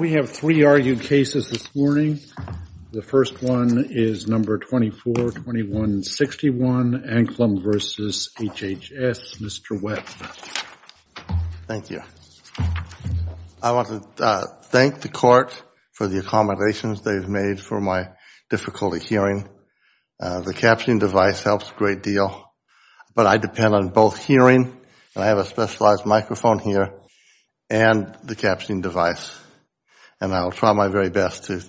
We have three argued cases this morning. The first one is number 242161, Anklam v. HHS. Mr. Webb. Thank you. I want to thank the court for the accommodations they've made for my difficulty hearing. The captioning device helps a great deal, but I depend on both hearing, and I have a specialized microphone here, and the captioning device, and I will try my very best to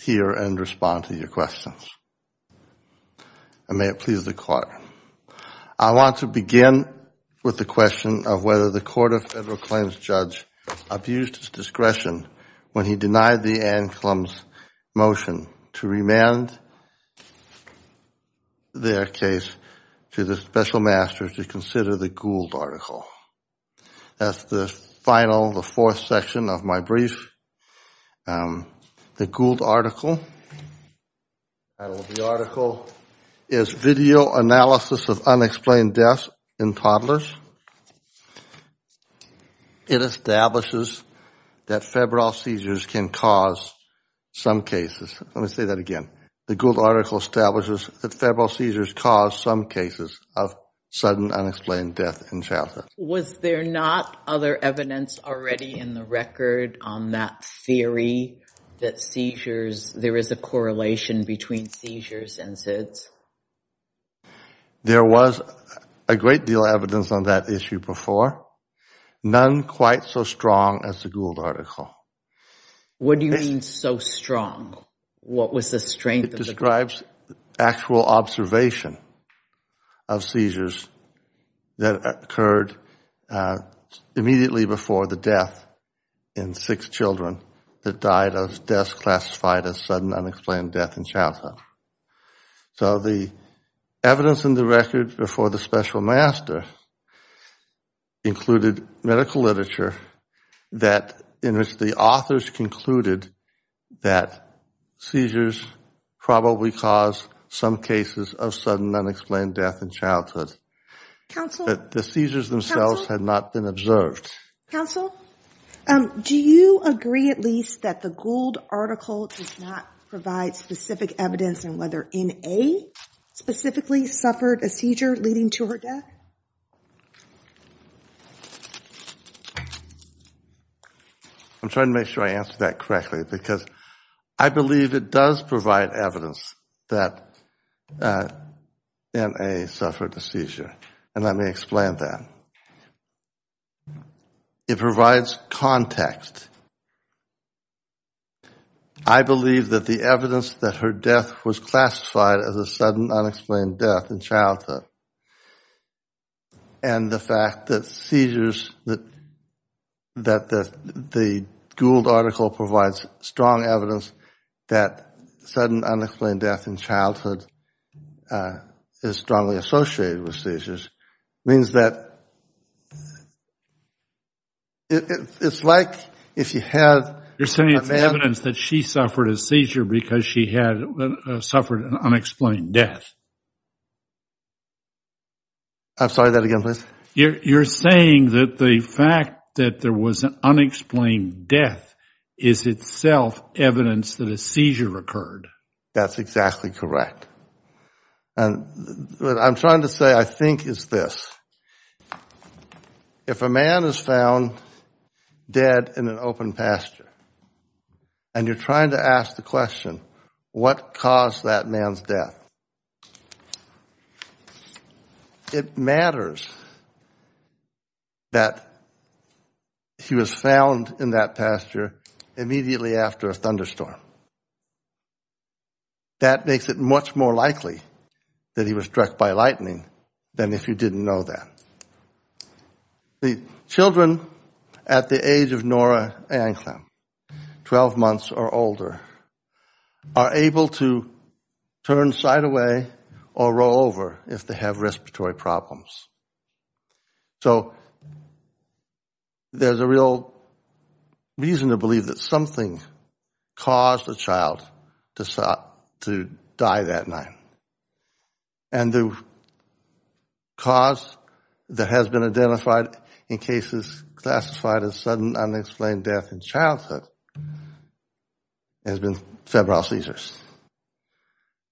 hear and respond to your questions. And may it please the court. I want to begin with the question of whether the Court of Federal Claims judge abused his discretion when he denied the Anklam's motion to remand their case to the special masters to consider the Gould article. That's the final, the fourth section of my brief. The Gould article is video analysis of unexplained deaths in toddlers. It establishes that febrile seizures can cause some cases. Let me say that again. The Gould article establishes that febrile seizures cause some cases of sudden unexplained death in childhood. Was there not other evidence already in the record on that theory that seizures, there is a correlation between seizures and SIDS? There was a great deal of evidence on that issue before. None quite so strong as the Gould article. What do you mean so strong? What was the strength of the Gould article? It describes actual observation of seizures that occurred immediately before the death in six children that died of deaths classified as sudden unexplained death in childhood. So the evidence in the record before the special master included medical literature that in the authors concluded that seizures probably cause some cases of sudden unexplained death in childhood. Counsel? That the seizures themselves had not been observed. Counsel, do you agree at least that the Gould article does not provide specific evidence on whether N.A. specifically suffered a seizure leading to her death? I'm trying to make sure I answer that correctly because I believe it does provide evidence that N.A. suffered a seizure and let me explain that. It provides context. I believe that the evidence that her death was classified as a sudden unexplained death in childhood and the fact that seizures, that the Gould article provides strong evidence that sudden unexplained death in childhood is strongly associated with seizures means that it's like if you had a man You're saying it's evidence that she suffered a seizure because she had suffered an unexplained death? I'm sorry, that again, please? You're saying that the fact that there was an unexplained death is itself evidence that a seizure occurred? That's exactly correct. I'm trying to say I think it's this. If a man is found dead in an open pasture and you're trying to ask the question, what caused that man's death? It matters that he was found in that pasture immediately after a thunderstorm. That makes it much more likely that he was struck by lightning than if you didn't know that. The children at the age of Nora and Clem, 12 months or older, are able to turn side away or roll over if they have respiratory problems. So there's a real reason to believe that something caused the child to die that night. And the cause that has been identified in cases classified as sudden unexplained death in childhood has been febrile seizures.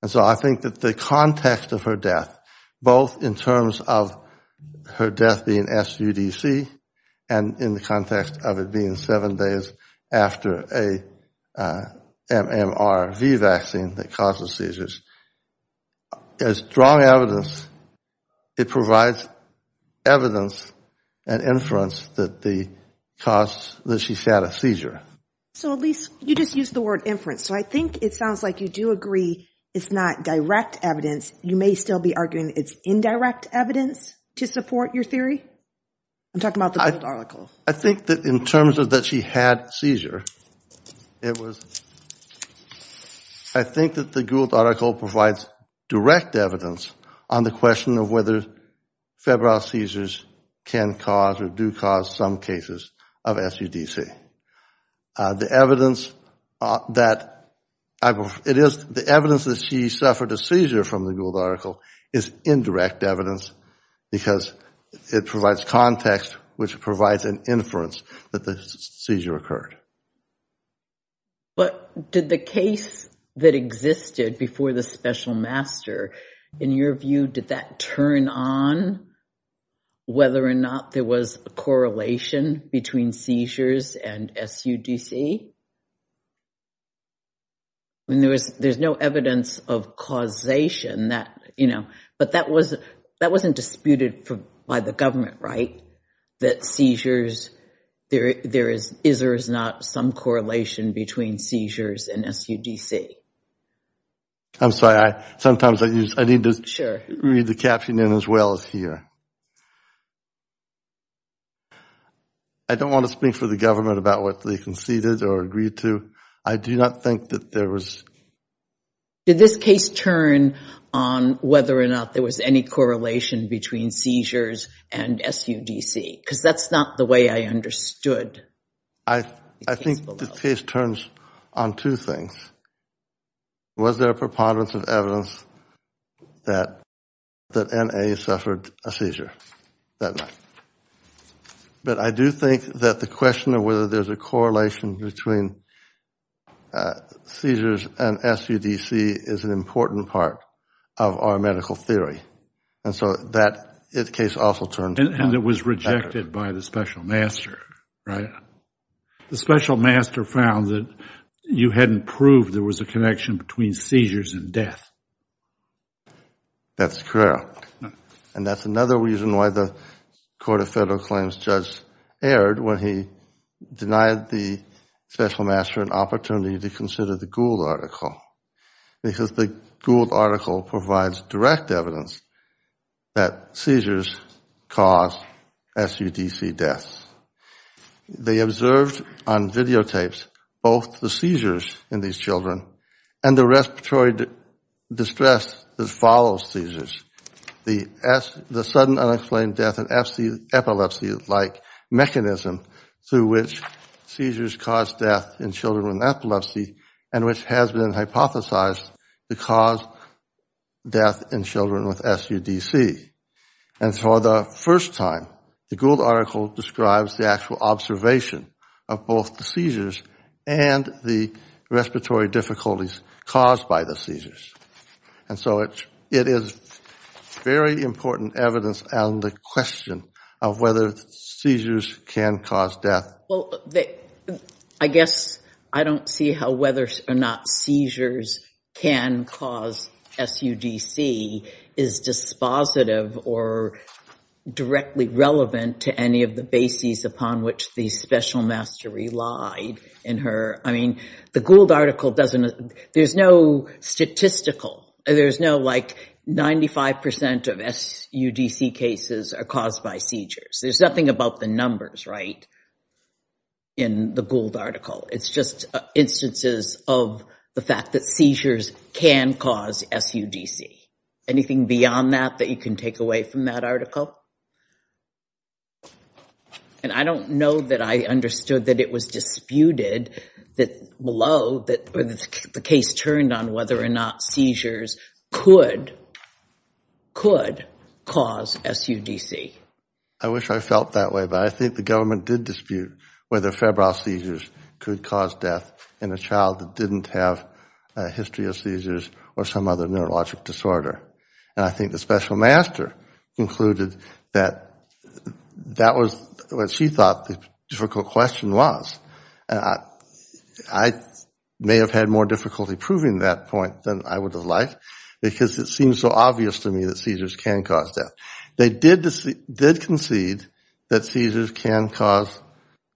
So I think that the context of her death, both in terms of her death being SUDC and in the context of it being seven days after a MMRV vaccine that causes seizures, there's strong evidence. It provides evidence and inference that she had a seizure. So at least you just used the word inference, so I think it sounds like you do agree it's not direct evidence. You may still be arguing it's indirect evidence to support your theory? I'm talking about the Gould article. I think that in terms of that she had seizure, it was, I think that the Gould article provides direct evidence on the question of whether febrile seizures can cause or do cause some cases of SUDC. The evidence that she suffered a seizure from the Gould article is indirect evidence because it provides context which provides an inference that the seizure occurred. But did the case that existed before the special master, in your view, did that turn on whether or not there was a correlation between seizures and SUDC? There's no evidence of causation, but that wasn't disputed by the government, right? That seizures, there is or is not some correlation between seizures and SUDC? I'm sorry, sometimes I need to read the caption in as well as here. I don't want to speak for the government about what they conceded or agreed to. I do not think that there was. Did this case turn on whether or not there was any correlation between seizures and SUDC? Because that's not the way I understood. I think the case turns on two things. First, was there a preponderance of evidence that N.A. suffered a seizure that night? But I do think that the question of whether there's a correlation between seizures and SUDC is an important part of our medical theory. And so that case also turned on. And it was rejected by the special master, right? The special master found that you hadn't proved there was a connection between seizures and death. That's correct. And that's another reason why the Court of Federal Claims judge erred when he denied the special master an opportunity to consider the Gould article, because the Gould article provides direct evidence that seizures cause SUDC deaths. They observed on videotapes both the seizures in these children and the respiratory distress that follows seizures, the sudden unexplained death and epilepsy-like mechanism through which seizures cause death in children with epilepsy and which has been hypothesized to cause death in children with SUDC. And for the first time, the Gould article describes the actual observation of both the seizures and the respiratory difficulties caused by the seizures. And so it is very important evidence on the question of whether seizures can cause death. Well, I guess I don't see how whether or not seizures can cause SUDC is dispositive or directly relevant to any of the bases upon which the special master relied in her. I mean, the Gould article doesn't, there's no statistical, there's no like 95 percent of SUDC cases are caused by seizures. There's nothing about the numbers, right, in the Gould article. It's just instances of the fact that seizures can cause SUDC. Anything beyond that that you can take away from that article? And I don't know that I understood that it was disputed that below, that the case turned on whether or not seizures could, could cause SUDC. I wish I felt that way, but I think the government did dispute whether febrile seizures could cause death in a child that didn't have a history of seizures or some other neurologic disorder. And I think the special master concluded that that was what she thought the difficult question was. I may have had more difficulty proving that point than I would have liked, because it seems so obvious to me that seizures can cause death. They did concede that seizures can cause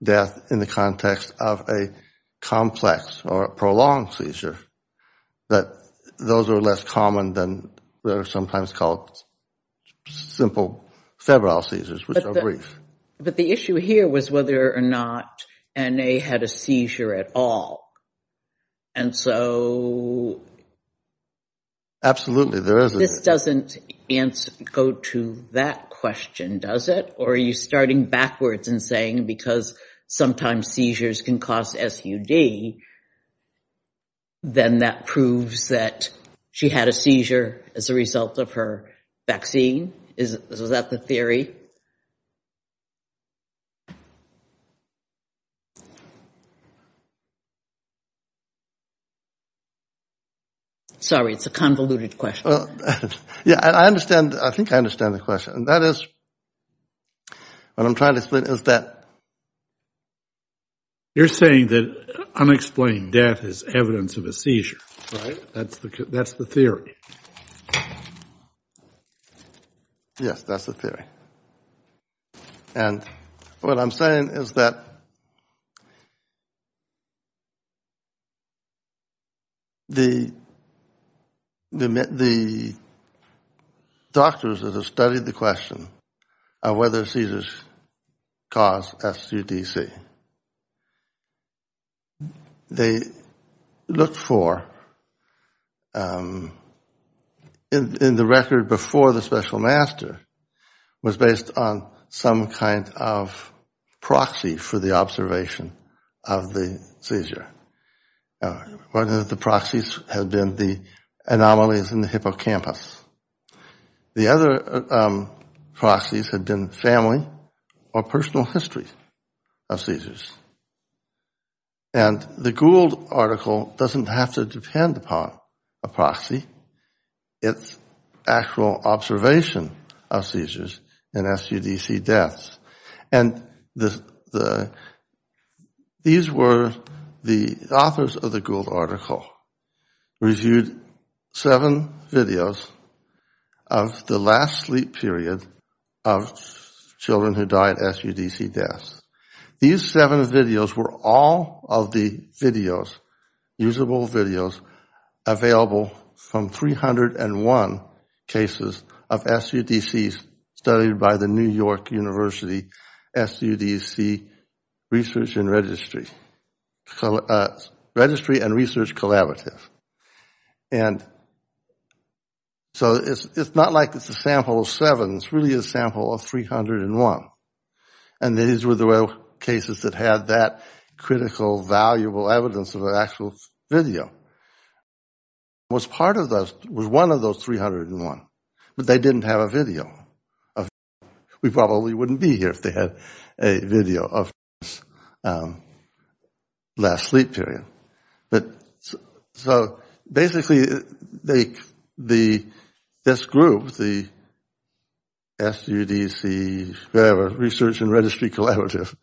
death in the context of a complex or prolonged seizure. But those are less common than what are sometimes called simple febrile seizures, which are brief. But the issue here was whether or not N.A. had a seizure at all. And so, this doesn't answer, go to that question, does it? Or are you starting backwards and saying because sometimes seizures can cause SUD, then that proves that she had a seizure as a result of her vaccine? Is that the theory? Sorry, it's a convoluted question. Yeah, I understand. I think I understand the question. And that is, what I'm trying to explain is that... You're saying that unexplained death is evidence of a seizure, right? That's the theory. Yes, that's the theory. And what I'm saying is that the doctors that have studied the question of whether seizures cause SUDC, they looked for, in the record before the special master, was based on some kind of proxy for the observation of the seizure. One of the proxies had been the anomalies in the hippocampus. The other proxies had been family or personal history of seizures. And the Gould article doesn't have to depend upon a proxy. It's actual observation of seizures and SUDC deaths. And these were the authors of the Gould article reviewed seven videos of the last sleep period of children who died SUDC deaths. These seven videos were all of the videos, usable videos, available from 301 cases of SUDCs studied by the New York University SUDC Research and Registry. So Registry and Research Collaborative. And so it's not like it's a sample of seven. It's really a sample of 301. And these were the cases that had that critical, valuable evidence of an actual video. It was part of those, it was one of those 301. But they didn't have a video. We probably wouldn't be here if they had a video of this last sleep period. So basically this group, the SUDC Research and Registry Collaborative,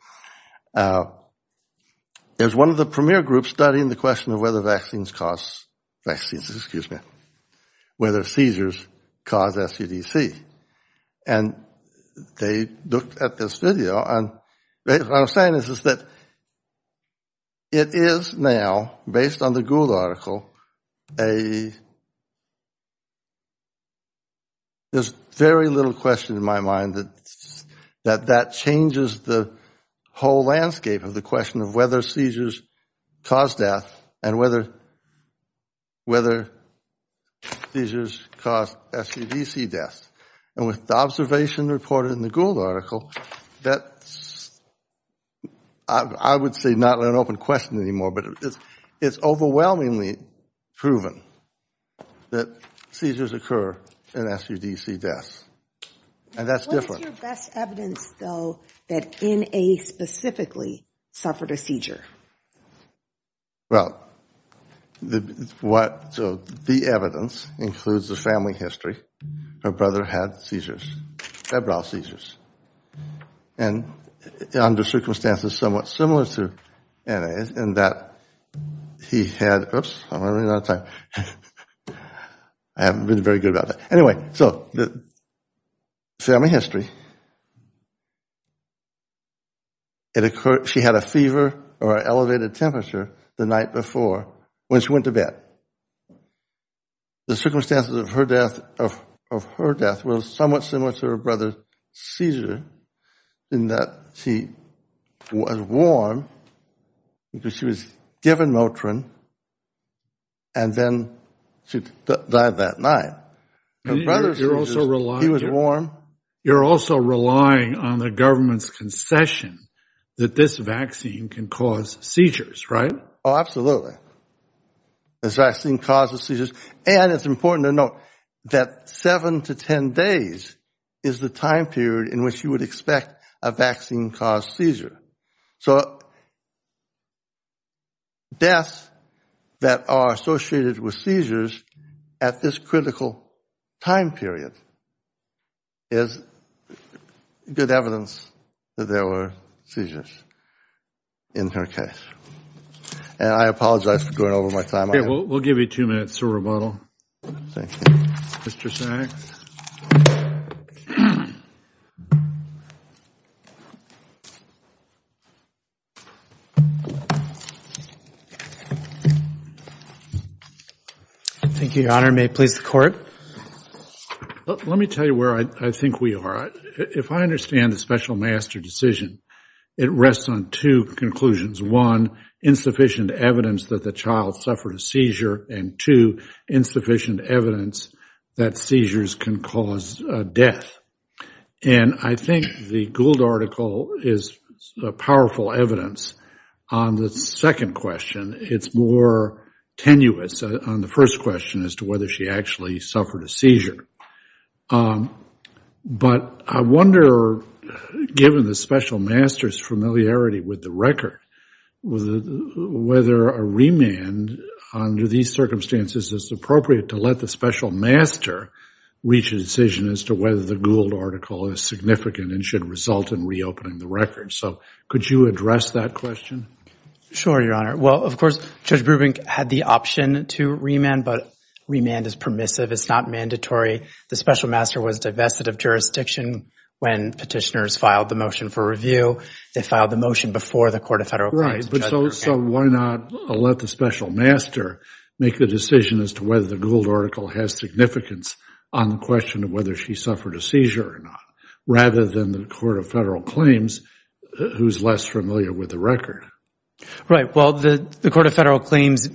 is one of the premier groups studying the question of whether vaccines cause, excuse me, whether seizures cause SUDC. And they looked at this video. What I'm saying is that it is now, based on the Gould article, there's very little question in my mind that that changes the whole landscape of the question of whether seizures cause death and whether seizures cause SUDC death. And with the observation reported in the Gould article, that's I would say not an open question anymore. But it's overwhelmingly proven that seizures occur in SUDC deaths. And that's different. What's your best evidence, though, that N.A. specifically suffered a seizure? Well, the evidence includes the family history. Her brother had seizures, febrile seizures. And under circumstances somewhat similar to N.A.'s in that he had, oops, I'm running out of time. I haven't been very good about that. Anyway, so the family history. She had a fever or an elevated temperature the night before when she went to bed. The circumstances of her death were somewhat similar to her brother's seizure in that she was warm because she was given Motrin and then she died that night. Her brother's seizure, he was warm. You're also relying on the government's concession that this vaccine can cause seizures, right? Oh, absolutely. This vaccine causes seizures. And it's important to note that seven to ten days is the time period in which you would expect a vaccine-caused seizure. So deaths that are associated with seizures at this critical time period is good evidence that there were seizures in her case. And I apologize for going over my time. Okay, we'll give you two minutes to rebuttal. Mr. Sachs? Thank you, Your Honor. May it please the Court? Let me tell you where I think we are. If I understand the special master decision, it rests on two conclusions. One, insufficient evidence that the child suffered a seizure. And two, insufficient evidence that seizures can cause death. And I think the Gould article is powerful evidence on the second question. It's more tenuous on the first question as to whether she actually suffered a seizure. But I wonder, given the special master's familiarity with the record, whether a remand under these circumstances is appropriate to let the special master reach a decision as to whether the Gould article is significant and should result in reopening the record. So could you address that question? Sure, Your Honor. Well, of course, Judge Brubin had the option to remand. But remand is permissive. It's not mandatory. The special master was divested of jurisdiction when petitioners filed the motion for review. They filed the motion before the Court of Federal Claims. So why not let the special master make the decision as to whether the Gould article has significance on the question of whether she suffered a seizure or not, rather than the Court of Federal Claims, who's less familiar with the record? Right. Well, the Court of Federal Claims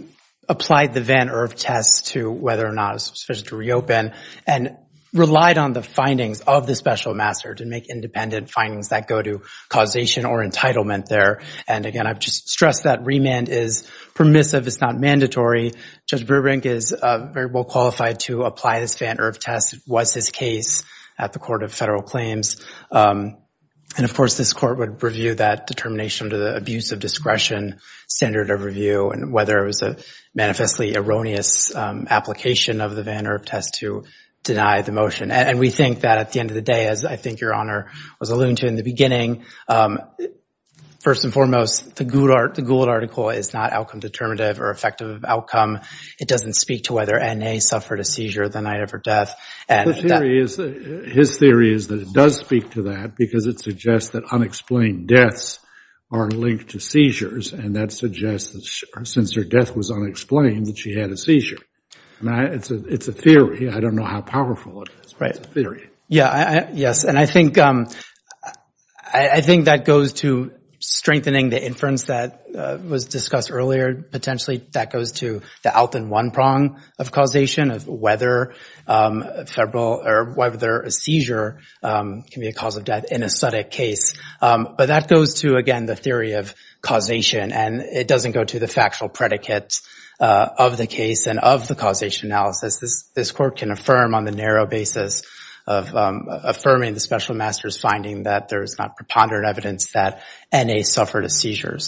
applied the Van Erf test to whether or not it was sufficient to reopen and relied on the findings of the special master to make independent findings that go to causation or entitlement there. And, again, I've just stressed that remand is permissive. It's not mandatory. Judge Brubin is very well qualified to apply this Van Erf test. It was his case at the Court of Federal Claims. And, of course, this Court would review that determination to the abuse of discretion standard of review and whether it was a manifestly erroneous application of the Van Erf test to deny the motion. And we think that at the end of the day, as I think Your Honor was alluding to in the beginning, first and foremost, the Gould article is not outcome determinative or effective outcome. It doesn't speak to whether N.A. suffered a seizure the night of her death. His theory is that it does speak to that because it suggests that unexplained deaths are linked to seizures, and that suggests that since her death was unexplained that she had a seizure. It's a theory. I don't know how powerful it is, but it's a theory. Yes, and I think that goes to strengthening the inference that was discussed earlier. Potentially, that goes to the Alton one prong of causation of whether a seizure can be a cause of death in a SUDIC case. But that goes to, again, the theory of causation, and it doesn't go to the factual predicates of the case and of the causation analysis. This Court can affirm on the narrow basis of affirming the special master's finding that there is not preponderant evidence that N.A. suffered a seizure.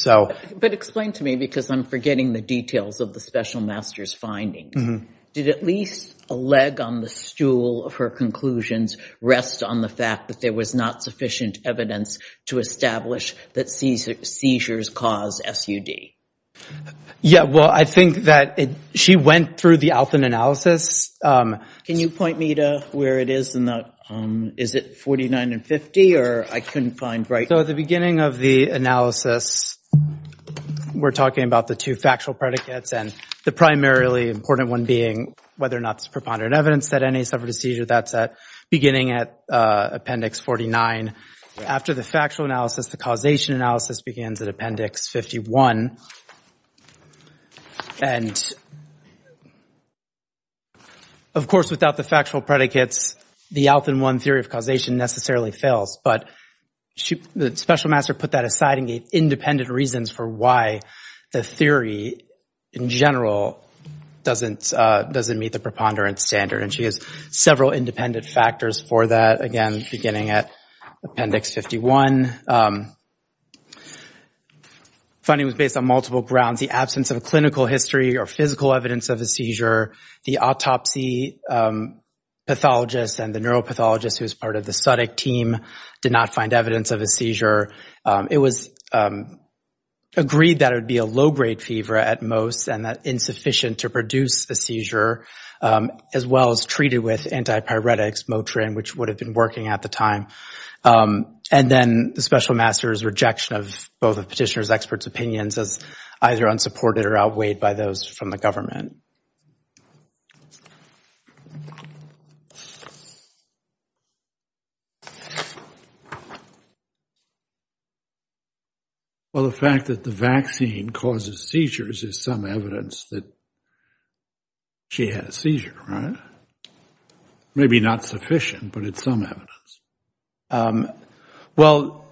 But explain to me, because I'm forgetting the details of the special master's findings. Did at least a leg on the stool of her conclusions rest on the fact that there was not sufficient evidence to establish that seizures cause SUD? Yeah, well, I think that she went through the Alton analysis. Can you point me to where it is? Is it 49 and 50, or I couldn't find right? So at the beginning of the analysis, we're talking about the two factual predicates, and the primarily important one being whether or not there's preponderant evidence that N.A. suffered a seizure. That's beginning at appendix 49. After the factual analysis, the causation analysis begins at appendix 51. And, of course, without the factual predicates, the Alton one theory of causation necessarily fails. But the special master put that aside and gave independent reasons for why the theory in general doesn't meet the preponderance standard. And she has several independent factors for that, again, beginning at appendix 51. The finding was based on multiple grounds. The absence of clinical history or physical evidence of a seizure. The autopsy pathologist and the neuropathologist who was part of the SUDIC team did not find evidence of a seizure. It was agreed that it would be a low-grade fever at most and that insufficient to produce a seizure, as well as treated with antipyretics, Motrin, which would have been working at the time. And then the special master's rejection of both the petitioner's experts' opinions as either unsupported or outweighed by those from the government. Well, the fact that the vaccine causes seizures is some evidence that she had a seizure, right? Maybe not sufficient, but it's some evidence. Well,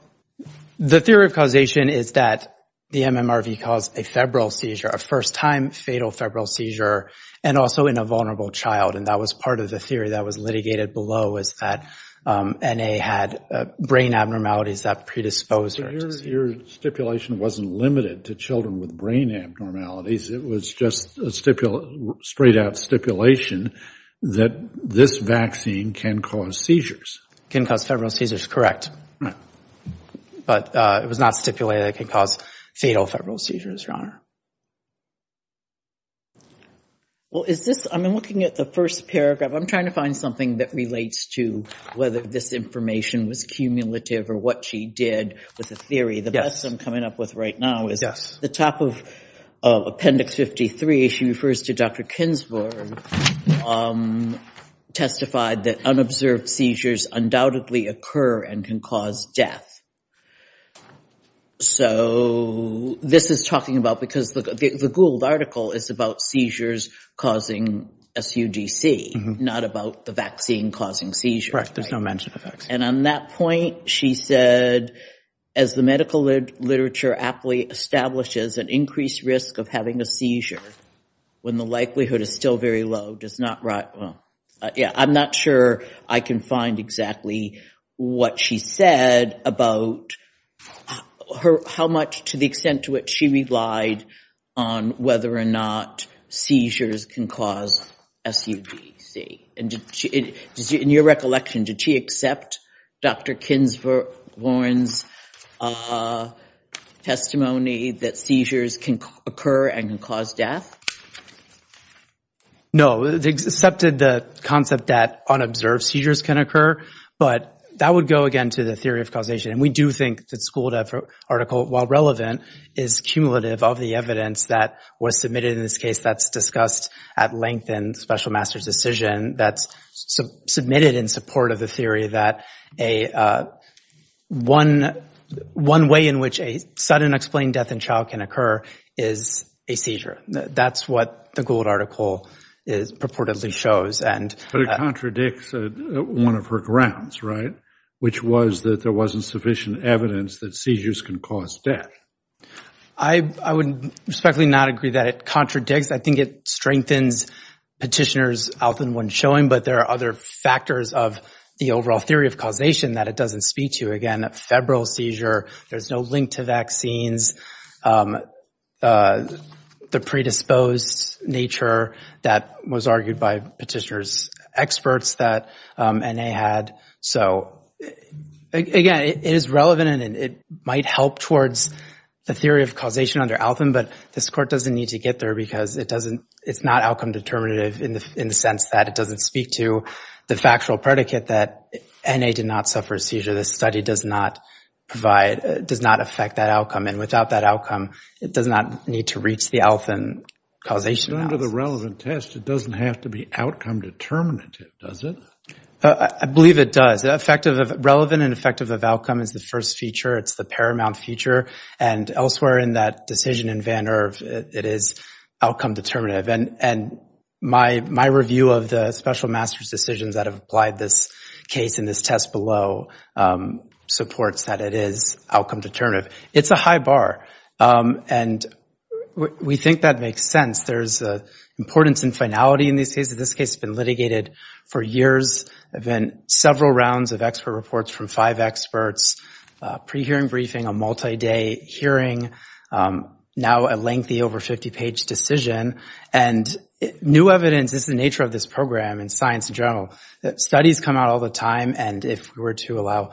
the theory of causation is that the MMRV caused a febrile seizure, a first-time fatal febrile seizure, and also in a vulnerable child. And that was part of the theory that was litigated below was that N.A. had brain abnormalities that predisposed her to seizures. Your stipulation wasn't limited to children with brain abnormalities. It was just a straight-out stipulation that this vaccine can cause seizures. It can cause febrile seizures, correct. But it was not stipulated that it could cause fatal febrile seizures, Your Honor. Well, is this – I'm looking at the first paragraph. I'm trying to find something that relates to whether this information was cumulative or what she did with the theory. The best I'm coming up with right now is the top of Appendix 53. She refers to Dr. Kinsberg, testified that unobserved seizures undoubtedly occur and can cause death. So this is talking about – because the Gould article is about seizures causing SUDC, not about the vaccine causing seizures. Correct. There's no mention of vaccines. And on that point, she said, as the medical literature aptly establishes, an increased risk of having a seizure when the likelihood is still very low does not – I'm not sure I can find exactly what she said about how much to the extent to which she relied on whether or not seizures can cause SUDC. In your recollection, did she accept Dr. Kinsberg's testimony that seizures can occur and can cause death? No. She accepted the concept that unobserved seizures can occur, but that would go, again, to the theory of causation. And we do think that the Gould article, while relevant, is cumulative of the evidence that was submitted in this case that's discussed at length in Special Master's decision that's submitted in support of the theory that one way in which a sudden explained death in child can occur is a seizure. That's what the Gould article purportedly shows. But it contradicts one of her grounds, right, which was that there wasn't sufficient evidence that seizures can cause death. I would respectfully not agree that it contradicts. I think it strengthens petitioners often when showing, but there are other factors of the overall theory of causation that it doesn't speak to. Again, a febrile seizure, there's no link to vaccines, the predisposed nature that was argued by petitioners' experts that N.A. had. So, again, it is relevant and it might help towards the theory of causation under Altham, but this court doesn't need to get there because it's not outcome determinative in the sense that it doesn't speak to the factual predicate that N.A. did not suffer a seizure. The study does not affect that outcome, and without that outcome, it does not need to reach the Altham causation process. But under the relevant test, it doesn't have to be outcome determinative, does it? I believe it does. Relevant and effective of outcome is the first feature. It's the paramount feature, and elsewhere in that decision in Van Erf, it is outcome determinative. My review of the special master's decisions that have applied this case in this test below supports that it is outcome determinative. It's a high bar, and we think that makes sense. There's importance in finality in these cases. This case has been litigated for years. There have been several rounds of expert reports from five experts, pre-hearing briefing, a multi-day hearing, now a lengthy over 50-page decision. And new evidence is the nature of this program in science in general. Studies come out all the time, and if we were to allow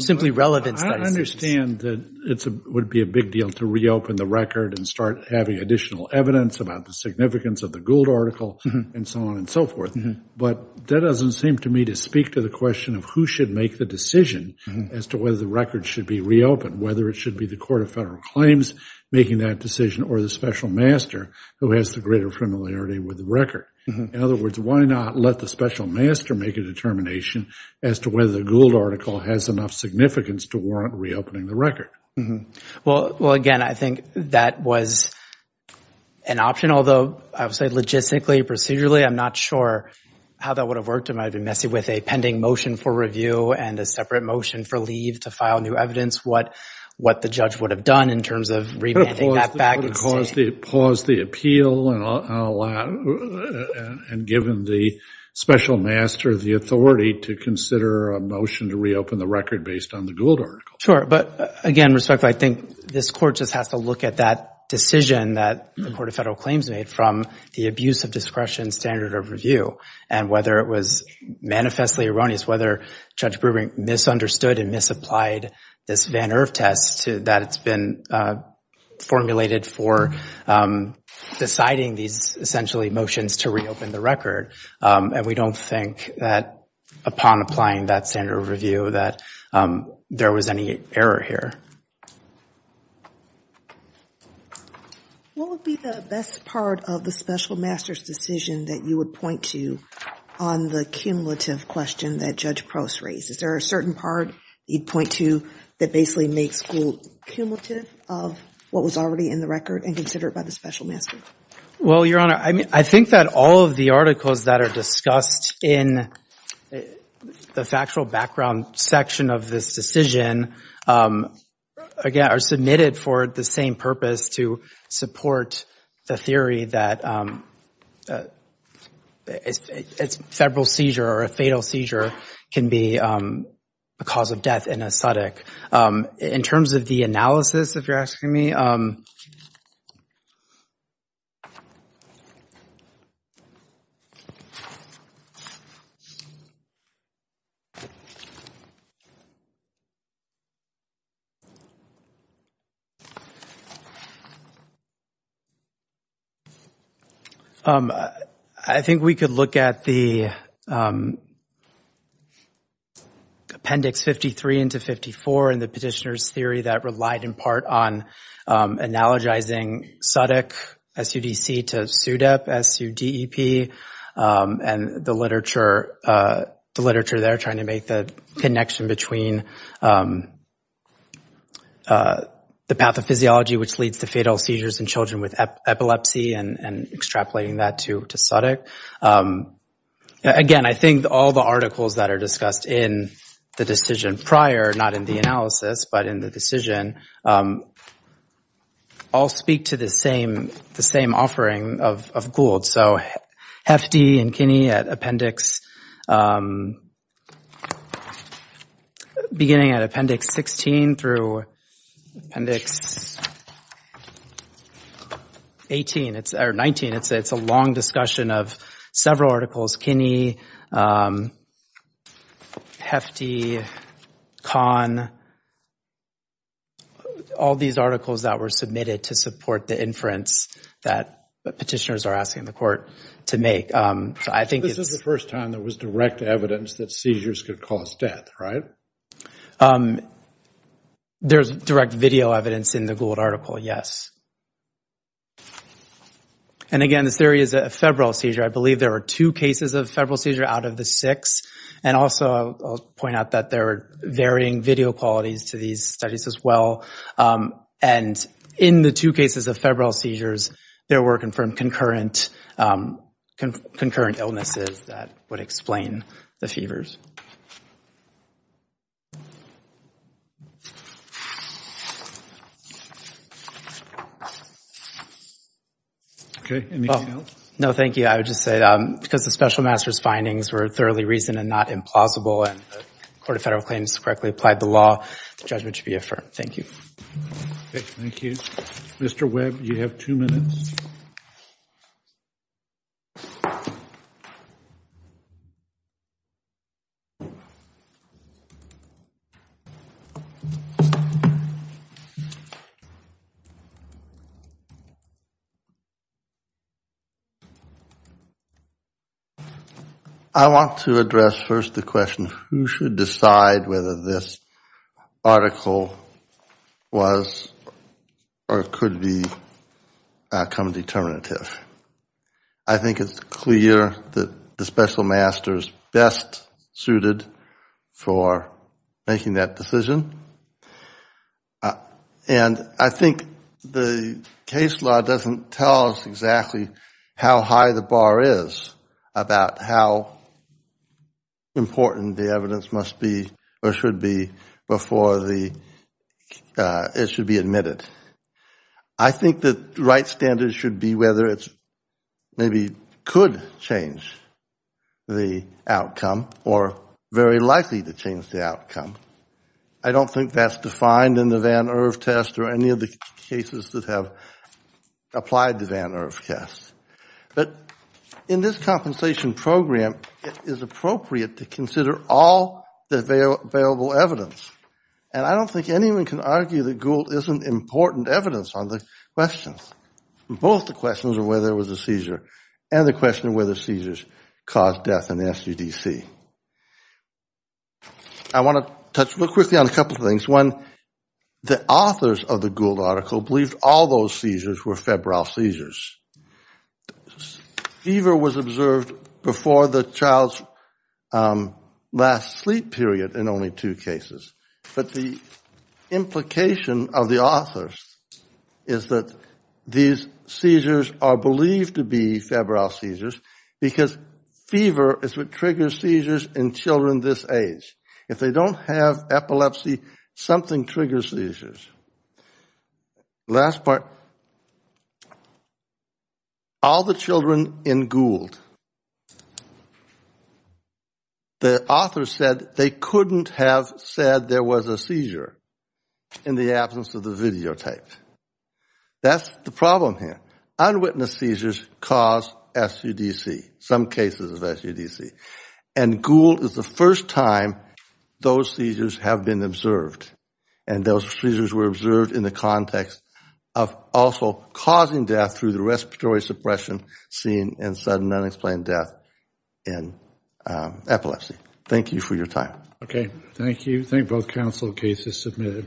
simply relevant studies. I understand that it would be a big deal to reopen the record and start having additional evidence about the significance of the Gould article and so on and so forth. But that doesn't seem to me to speak to the question of who should make the decision as to whether the record should be reopened, whether it should be the Court of Federal Claims making that decision or the special master who has the greater familiarity with the record. In other words, why not let the special master make a determination as to whether the Gould article has enough significance to warrant reopening the record? Well, again, I think that was an option, although I would say logistically, procedurally, I'm not sure how that would have worked. It might be messy with a pending motion for review and a separate motion for leave to file new evidence. What the judge would have done in terms of remanding that back. Pause the appeal and given the special master the authority to consider a motion to reopen the record based on the Gould article. Sure, but again, respectfully, I think this court just has to look at that decision that the Court of Federal Claims made from the abuse of discretion standard of review. And whether it was manifestly erroneous, whether Judge Brewer misunderstood and misapplied this Van Erf test that's been formulated for deciding these essentially motions to reopen the record. And we don't think that upon applying that standard of review that there was any error here. What would be the best part of the special master's decision that you would point to on the cumulative question that Judge Prost raised? Is there a certain part you'd point to that basically makes Gould cumulative of what was already in the record and considered by the special master? Well, Your Honor, I think that all of the articles that are discussed in the factual background section of this decision are submitted for the same purpose to support the theory that a federal seizure or a fatal seizure can be a cause of death in a SUDIC. In terms of the analysis, if you're asking me, I think we could look at the Appendix 53 into 54 and the petitioner's theory that relied in part on analogizing SUDIC, S-U-D-C, to SUDEP, S-U-D-E-P. And the literature there trying to make the connection between the pathophysiology which leads to fatal seizures in children with epilepsy and extrapolating that to SUDIC. Again, I think all the articles that are discussed in the decision prior, not in the analysis, but in the decision, all speak to the same offering of Gould. So Hefty and Kinney at Appendix 16 through Appendix 19. It's a long discussion of several articles, Kinney, Hefty, Kahn. All these articles that were submitted to support the inference that petitioners are asking the court to make. So I think it's This is the first time there was direct evidence that seizures could cause death, right? There's direct video evidence in the Gould article, yes. And again, the theory is a febrile seizure. I believe there were two cases of febrile seizure out of the six. And also, I'll point out that there are varying video qualities to these studies as well. And in the two cases of febrile seizures, there were confirmed concurrent illnesses that would explain the fevers. Okay, anything else? No, thank you. I would just say, because the special master's findings were thoroughly reasoned and not implausible, and the Court of Federal Claims correctly applied the law, the judgment should be affirmed. Thank you. Thank you. Mr. Webb, you have two minutes. I want to address first the question, who should decide whether this article was or could become determinative? I think it's clear that the special master's best suited for making that decision. And I think the case law doesn't tell us exactly how high the bar is about how important the evidence must be or should be before it should be admitted. I think the right standard should be whether it maybe could change the outcome or very likely to change the outcome. I don't think that's defined in the Van Erf test or any of the cases that have applied the Van Erf test. But in this compensation program, it is appropriate to consider all the available evidence. And I don't think anyone can argue that Gould isn't important evidence on the questions. Both the questions of whether there was a seizure and the question of whether seizures caused death in the SUDC. I want to touch real quickly on a couple of things. One, the authors of the Gould article believed all those seizures were febrile seizures. Fever was observed before the child's last sleep period in only two cases. But the implication of the authors is that these seizures are believed to be febrile seizures because fever is what triggers seizures in children this age. If they don't have epilepsy, something triggers seizures. Last part, all the children in Gould, the authors said they couldn't have said there was a seizure in the absence of the videotape. That's the problem here. Unwitnessed seizures cause SUDC, some cases of SUDC. And Gould is the first time those seizures have been observed. And those seizures were observed in the context of also causing death through the respiratory suppression, seeing, and sudden unexplained death in epilepsy. Thank you for your time. Okay, thank you. I think both counsel cases submitted.